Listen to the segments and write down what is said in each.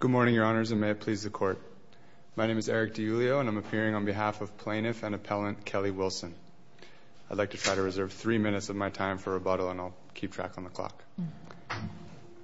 Good morning, your honors, and may it please the court. My name is Eric DiIulio, and I'm appearing on behalf of plaintiff and appellant Kelly Wilson. I'd like to try to reserve three minutes of my time for rebuttal, and I'll keep track on the clock.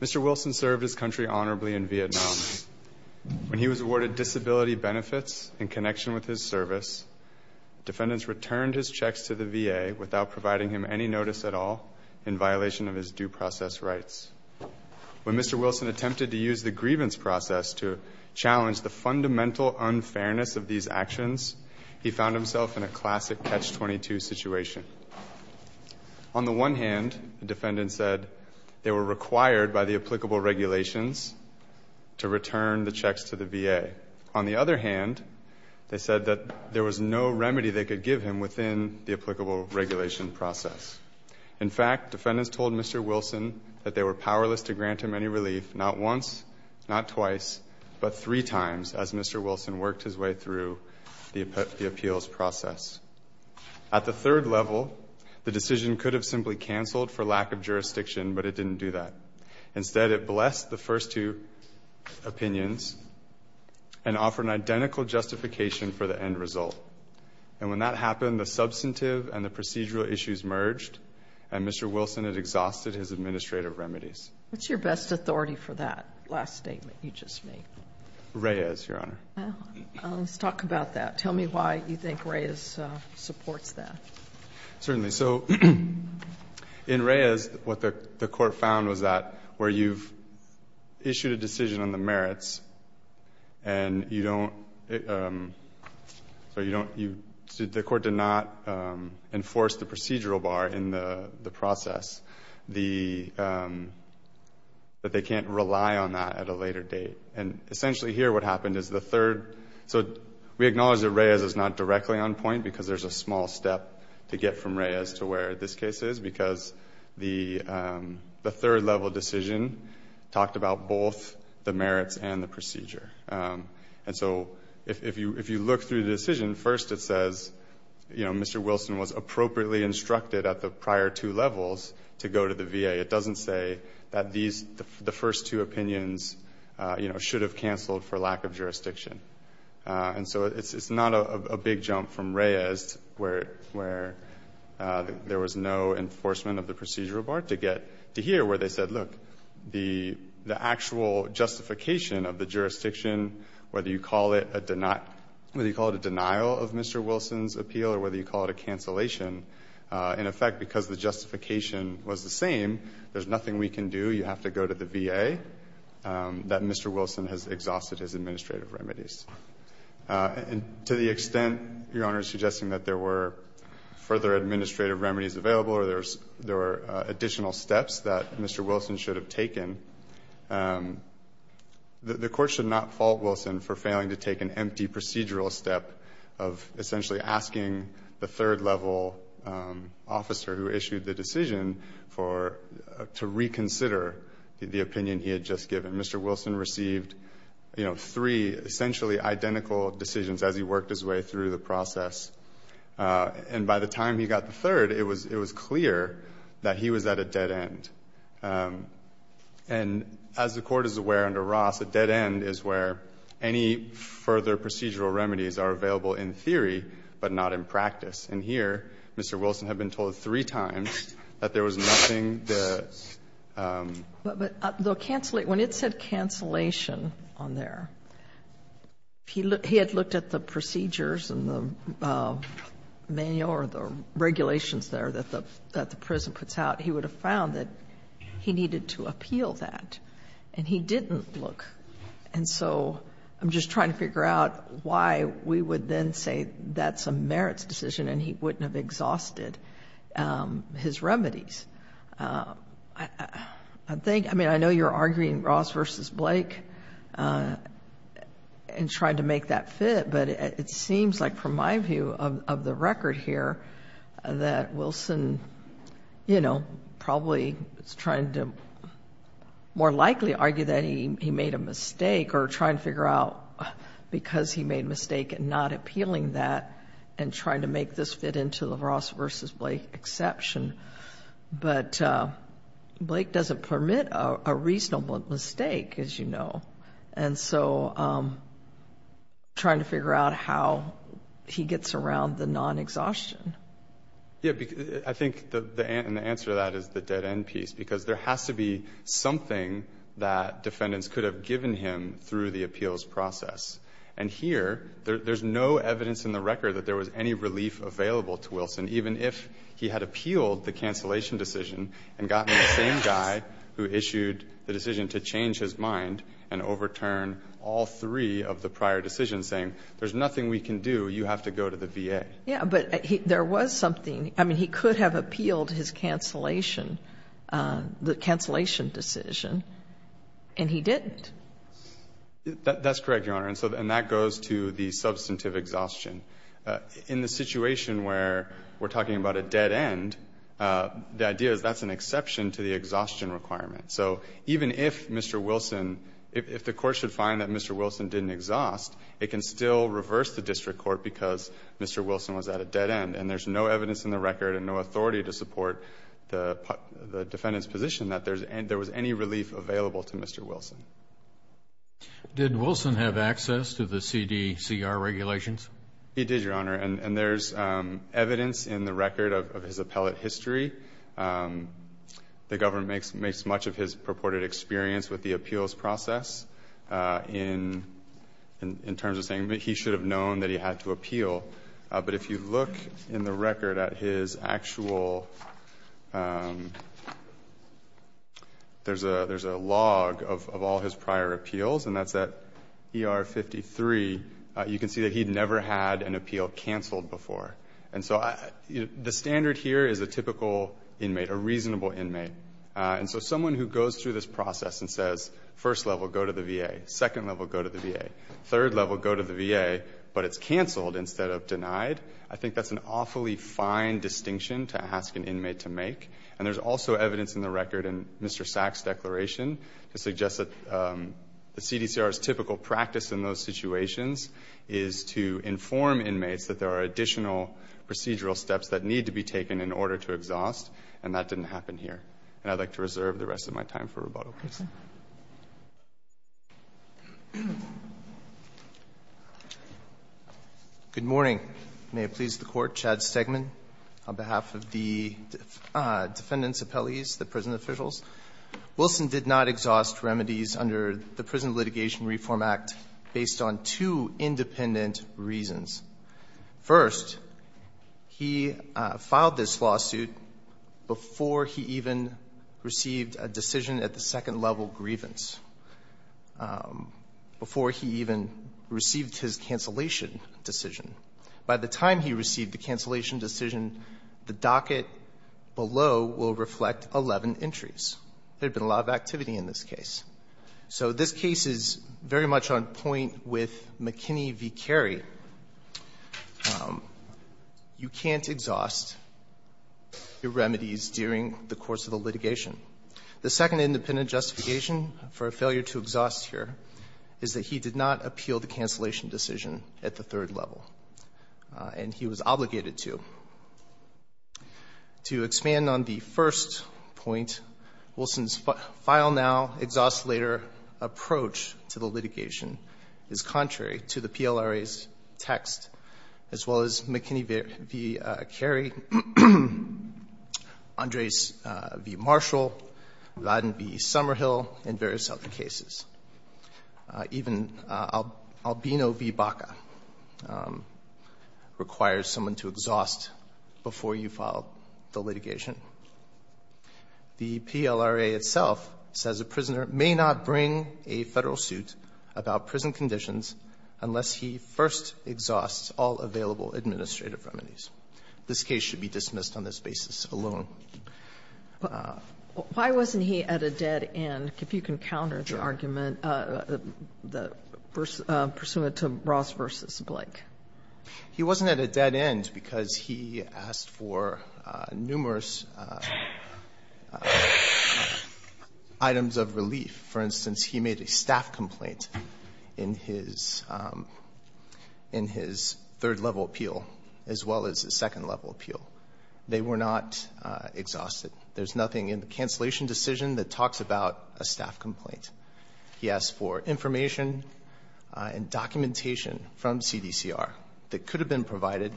Mr. Wilson served his country honorably in Vietnam. When he was awarded disability benefits in connection with his service, defendants returned his checks to the VA without providing him any notice at all in violation of his due process rights. When Mr. Wilson attempted to use the grievance process to challenge the fundamental unfairness of these actions, he found himself in a classic catch-22 situation. On the one hand, the defendants said they were required by the applicable regulations to return the checks to the VA. On the other hand, they said that there was no remedy they could give him within the applicable regulation process. In fact, defendants told Mr. Wilson that they were powerless to grant him any relief not once, not twice, but three times as Mr. Wilson worked his way through the appeals process. At the third level, the decision could have simply canceled for lack of jurisdiction, but it didn't do that. Instead, it blessed the first two opinions and offered an identical justification for the end result. And when that happened, the substantive and the procedural issues merged, and Mr. Wilson had exhausted his administrative remedies. What's your best authority for that last statement you just made? Reyes, Your Honor. Let's talk about that. Tell me why you think Reyes supports that. Certainly. So in Reyes, what the Court found was that where you've issued a decision on the merits, and you don't, the Court did not enforce the procedural bar in the process, that they can't rely on that at a later date. And essentially here what happened is the third, so we acknowledge that Reyes is not directly on point because there's a small step to get from Reyes to where this case is, because the third level decision talked about both the merits and the procedure. And so if you look through the decision, first it says, you know, Mr. Wilson was appropriately instructed at the prior two levels to go to the VA. It doesn't say that the first two opinions, you know, should have canceled for lack of jurisdiction. And so it's not a big jump from Reyes where there was no enforcement of the procedural bar to get to here, where they said, look, the actual justification of the jurisdiction, whether you call it a denial of Mr. Wilson's appeal or whether you call it a cancellation, in effect, because the justification was the same, there's nothing we can do. You have to go to the VA. That Mr. Wilson has exhausted his administrative remedies. And to the extent, Your Honor, suggesting that there were further administrative remedies available or there were additional steps that Mr. Wilson should have taken, the Court should not fault Wilson for failing to take an empty procedural step of essentially asking the third level officer who issued the decision to reconsider the opinion he had just given. Mr. Wilson received, you know, three essentially identical decisions as he worked his way through the process. And by the time he got the third, it was clear that he was at a dead end. And as the Court is aware under Ross, a dead end is where any further procedural remedies are available in theory but not in practice. And here, Mr. Wilson had been told three times that there was nothing that the ---- Sotomayor, when it said cancellation on there, he had looked at the procedures and the manual or the regulations there that the prison puts out. He would have found that he needed to appeal that. And he didn't look. And so I'm just trying to figure out why we would then say that's a merits decision and he wouldn't have exhausted his remedies. I think, I mean, I know you're arguing Ross v. Blake and trying to make that fit, but it seems like from my view of the record here that Wilson, you know, probably is trying to more likely argue that he made a mistake or trying to figure out because he made a mistake in not appealing that and trying to make this fit into the Ross v. Blake exception. But Blake doesn't permit a reasonable mistake, as you know. And so trying to figure out how he gets around the non-exhaustion. Yeah. I think the answer to that is the dead end piece, because there has to be something that defendants could have given him through the appeals process. And here, there's no evidence in the record that there was any relief available to Wilson, even if he had appealed the cancellation decision and gotten the same guy who issued the decision to change his mind and overturn all three of the prior decisions, saying there's nothing we can do, you have to go to the VA. Yeah, but there was something. I mean, he could have appealed his cancellation, the cancellation decision, and he didn't. That's correct, Your Honor. And that goes to the substantive exhaustion. In the situation where we're talking about a dead end, the idea is that's an exception to the exhaustion requirement. So even if Mr. Wilson, if the Court should find that Mr. Wilson didn't exhaust, it can still reverse the district court because Mr. Wilson was at a dead end. And there's no evidence in the record and no authority to support the defendant's position that there was any relief available to Mr. Wilson. Did Wilson have access to the CDCR regulations? He did, Your Honor. And there's evidence in the record of his appellate history. The government makes much of his purported experience with the appeals process in terms of saying that he should have known that he had to appeal. But if you look in the record at his actual, there's a log of all his prior appeals, and that's at ER 53. You can see that he'd never had an appeal canceled before. And so the standard here is a typical inmate, a reasonable inmate. And so someone who goes through this process and says, first level, go to the VA, second level, go to the VA, third level, go to the VA, but it's canceled instead of denied, I think that's an awfully fine distinction to ask an inmate to make. And there's also evidence in the record in Mr. Sack's declaration that suggests that the CDCR's typical practice in those situations is to inform inmates that there are additional procedural steps that need to be taken in order to exhaust, and that didn't happen here. And I'd like to reserve the rest of my time for rebuttal, please. Mr. Wilson. Good morning. May it please the Court. Chad Stegman on behalf of the defendants' appellees, the prison officials. Wilson did not exhaust remedies under the Prison Litigation Reform Act based on two independent reasons. First, he filed this lawsuit before he even received a decision at the second level of probable grievance, before he even received his cancellation decision. By the time he received the cancellation decision, the docket below will reflect 11 entries. There had been a lot of activity in this case. So this case is very much on point with McKinney v. Carey. You can't exhaust your remedies during the course of the litigation. The second independent justification for a failure to exhaust here is that he did not appeal the cancellation decision at the third level, and he was obligated to. To expand on the first point, Wilson's file-now, exhaust-later approach to the litigation is contrary to the PLRA's text, as well as McKinney v. Carey, Andres v. Marshall, Ladin v. Summerhill, and various other cases. Even Albino v. Baca requires someone to exhaust before you file the litigation. The PLRA itself says a prisoner may not bring a Federal suit about prison conditions unless he first exhausts all available administrative remedies. This case should be dismissed on this basis alone. Why wasn't he at a dead end, if you can counter the argument, pursuant to Ross v. Blake? He wasn't at a dead end because he asked for numerous items of relief. For instance, he made a staff complaint in his third-level appeal, as well as his second-level appeal. They were not exhausted. There's nothing in the cancellation decision that talks about a staff complaint. He asked for information and documentation from CDCR that could have been provided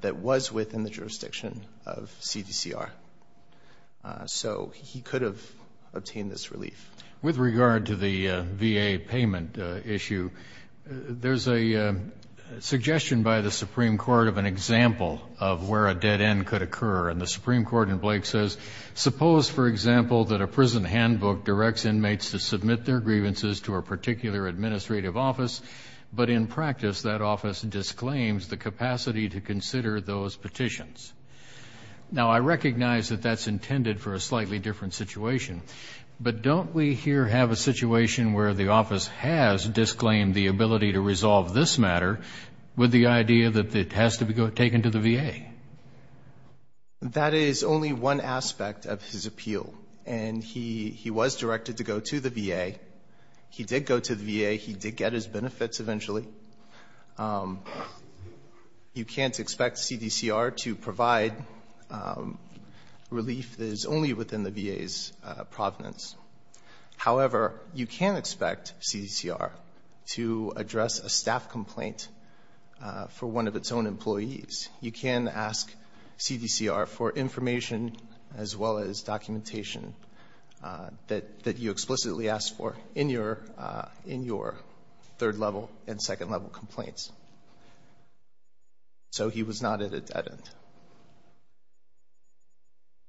that was within the jurisdiction of CDCR. So he could have obtained this relief. With regard to the VA payment issue, there's a suggestion by the Supreme Court of an And the Supreme Court in Blake says, Suppose, for example, that a prison handbook directs inmates to submit their grievances to a particular administrative office, but in practice that office disclaims the capacity to consider those petitions. Now, I recognize that that's intended for a slightly different situation, but don't we here have a situation where the office has disclaimed the ability to resolve this matter with the idea that it has to be taken to the VA? That is only one aspect of his appeal. And he was directed to go to the VA. He did go to the VA. He did get his benefits eventually. You can't expect CDCR to provide relief that is only within the VA's provenance. However, you can expect CDCR to address a staff complaint for one of its own employees. You can ask CDCR for information as well as documentation that you explicitly asked for in your third-level and second-level complaints.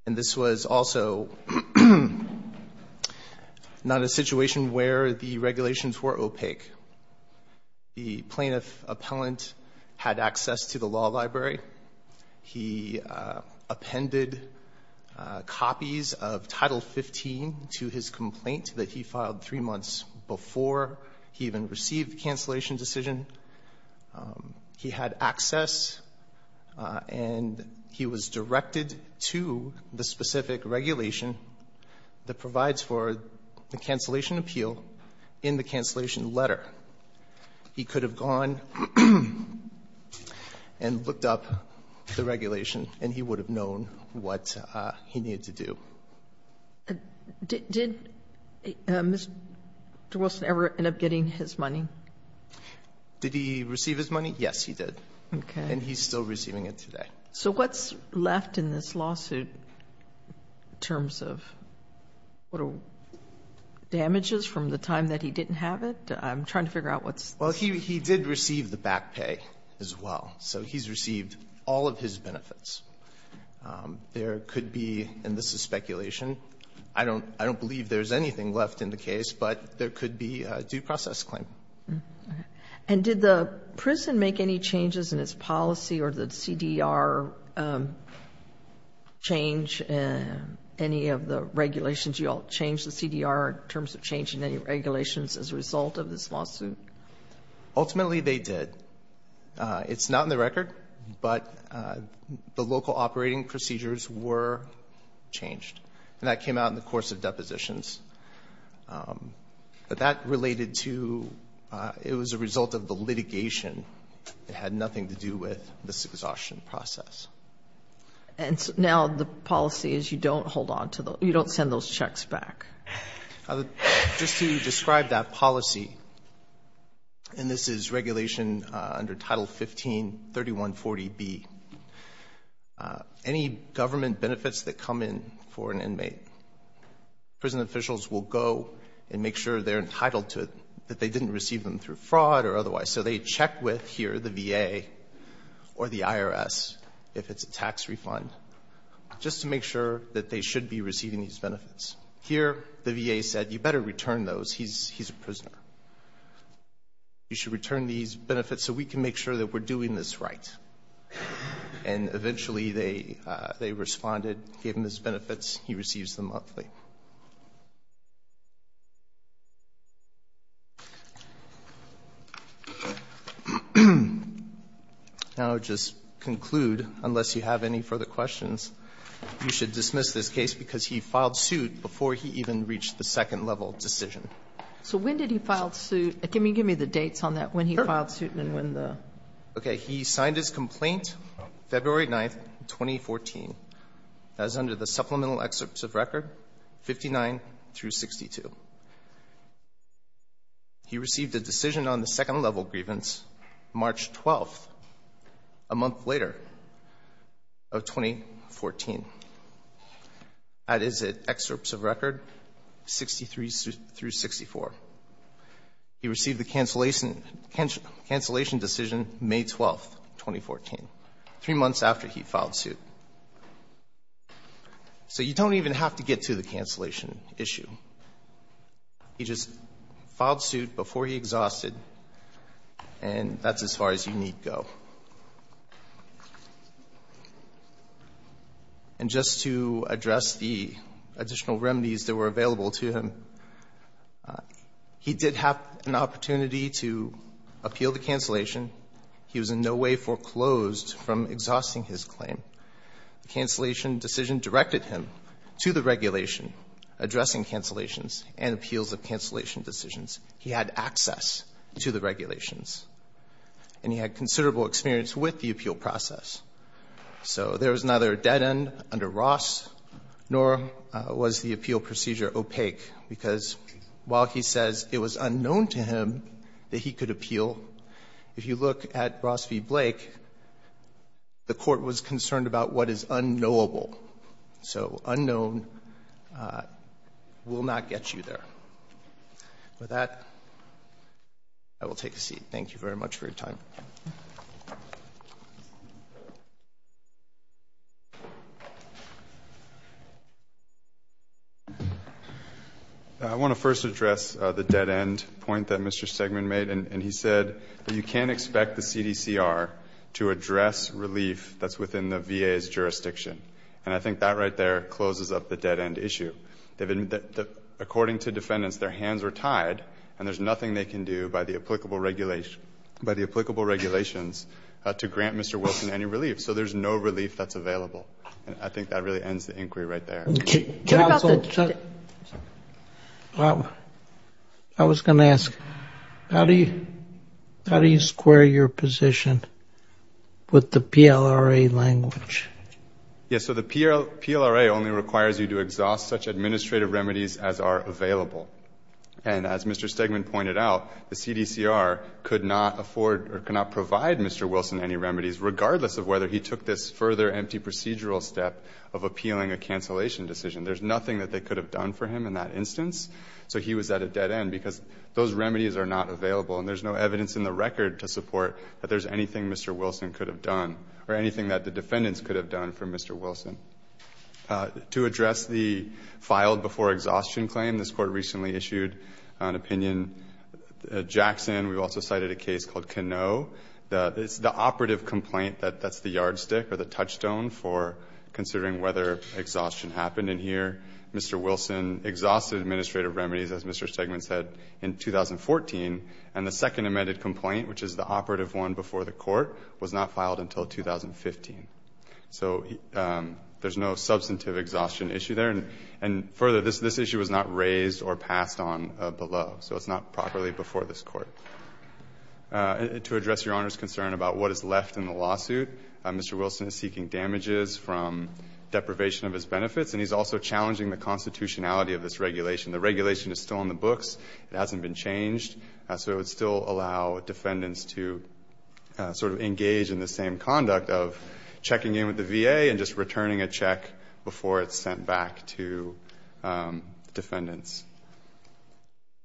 And this was also not a situation where the regulations were opaque. The plaintiff appellant had access to the law library. He appended copies of Title 15 to his complaint that he filed three months before he even received the cancellation decision. He had access and he was directed to the specific regulation that provides for the cancellation appeal in the cancellation letter. He could have gone and looked up the regulation and he would have known what he needed to do. Did Mr. Wilson ever end up getting his money? Did he receive his money? Yes, he did. Okay. And he's still receiving it today. So what's left in this lawsuit in terms of damages from the time that he didn't have it? I'm trying to figure out what's... Well, he did receive the back pay as well. So he's received all of his benefits. There could be, and this is speculation, I don't believe there's anything left in the case, but there could be a due process claim. Okay. And did the prison make any changes in its policy or the CDR change any of the regulations? You all changed the CDR in terms of changing any regulations as a result of this lawsuit? Ultimately, they did. It's not in the record, but the local operating procedures were changed. And that came out in the course of depositions. But that related to, it was a result of the litigation. It had nothing to do with this exhaustion process. And now the policy is you don't hold on to those, you don't send those checks back. Just to describe that policy, and this is regulation under Title 15-3140B, any government benefits that come in for an inmate, prison officials will go and make sure they're entitled to it, that they didn't receive them through fraud or otherwise. So they check with here the VA or the IRS if it's a tax refund, Here the VA said, you better return those. He's a prisoner. You should return these benefits so we can make sure that we're doing this right. And eventually they responded, gave him his benefits. He receives them monthly. Now I'll just conclude, unless you have any further questions. You should dismiss this case because he filed suit before he even reached the second-level decision. So when did he file suit? Can you give me the dates on that, when he filed suit and when the? Okay. He signed his complaint February 9th, 2014. That is under the supplemental excerpts of record 59 through 62. He received a decision on the second-level grievance March 12th, a month later of 2014. That is at excerpts of record 63 through 64. He received the cancellation decision May 12th, 2014, three months after he filed suit. So you don't even have to get to the cancellation issue. He just filed suit before he exhausted, and that's as far as you need go. And just to address the additional remedies that were available to him, he did have an opportunity to appeal the cancellation. He was in no way foreclosed from exhausting his claim. The cancellation decision directed him to the regulation addressing cancellations and appeals of cancellation decisions. He had access to the regulations. And he had considerable experience with the appeal process. So there was neither a dead end under Ross, nor was the appeal procedure opaque, because while he says it was unknown to him that he could appeal, if you look at Ross v. Blake, the court was concerned about what is unknowable. So unknown will not get you there. With that, I will take a seat. Thank you very much for your time. I want to first address the dead end point that Mr. Stegman made. And he said that you can't expect the CDCR to address relief that's within the VA's jurisdiction. And I think that right there closes up the dead end issue. According to defendants, their hands are tied, and there's nothing they can do by the applicable regulations to grant Mr. Wilson any relief. So there's no relief that's available. And I think that really ends the inquiry right there. Counsel, I was going to ask, how do you square your position with the PLRA language? Yes. So the PLRA only requires you to exhaust such administrative remedies as are available. And as Mr. Stegman pointed out, the CDCR could not afford or could not provide Mr. Wilson any remedies, regardless of whether he took this further empty procedural step of appealing a cancellation decision. There's nothing that they could have done for him in that instance, so he was at a dead end, because those remedies are not available. And there's no evidence in the record to support that there's anything Mr. Wilson could have done or anything that the defendants could have done for Mr. Wilson. To address the filed before exhaustion claim, this Court recently issued an opinion. At Jackson, we also cited a case called Canoe. It's the operative complaint that's the yardstick or the touchstone for considering whether exhaustion happened. And here, Mr. Wilson exhausted administrative remedies, as Mr. Stegman said, in 2014. And the second amended complaint, which is the operative one before the Court, was not filed until 2015. So there's no substantive exhaustion issue there. And further, this issue was not raised or passed on below, so it's not properly before this Court. To address Your Honor's concern about what is left in the lawsuit, Mr. Wilson is seeking damages from deprivation of his benefits, and he's also challenging the constitutionality of this regulation. The regulation is still in the books. It hasn't been changed. So it would still allow defendants to sort of engage in the same conduct of checking in with the VA and just returning a check before it's sent back to defendants.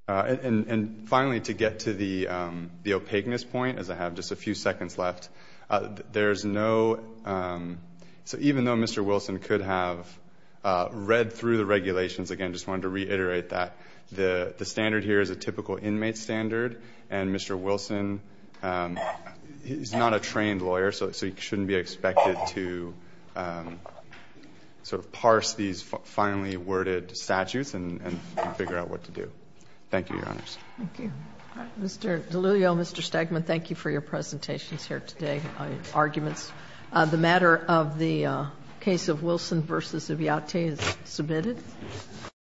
And finally, to get to the opaqueness point, as I have just a few seconds left, there's no – so even though Mr. Wilson could have read through the regulations, again, I just wanted to reiterate that. The standard here is a typical inmate standard, and Mr. Wilson, he's not a trained lawyer, so he shouldn't be expected to sort of parse these finely worded statutes and figure out what to do. Thank you, Your Honors. Thank you. All right. Mr. Deluglio, Mr. Stegman, thank you for your presentations here today, arguments. The matter of the case of Wilson v. Eviate is submitted. Thank you.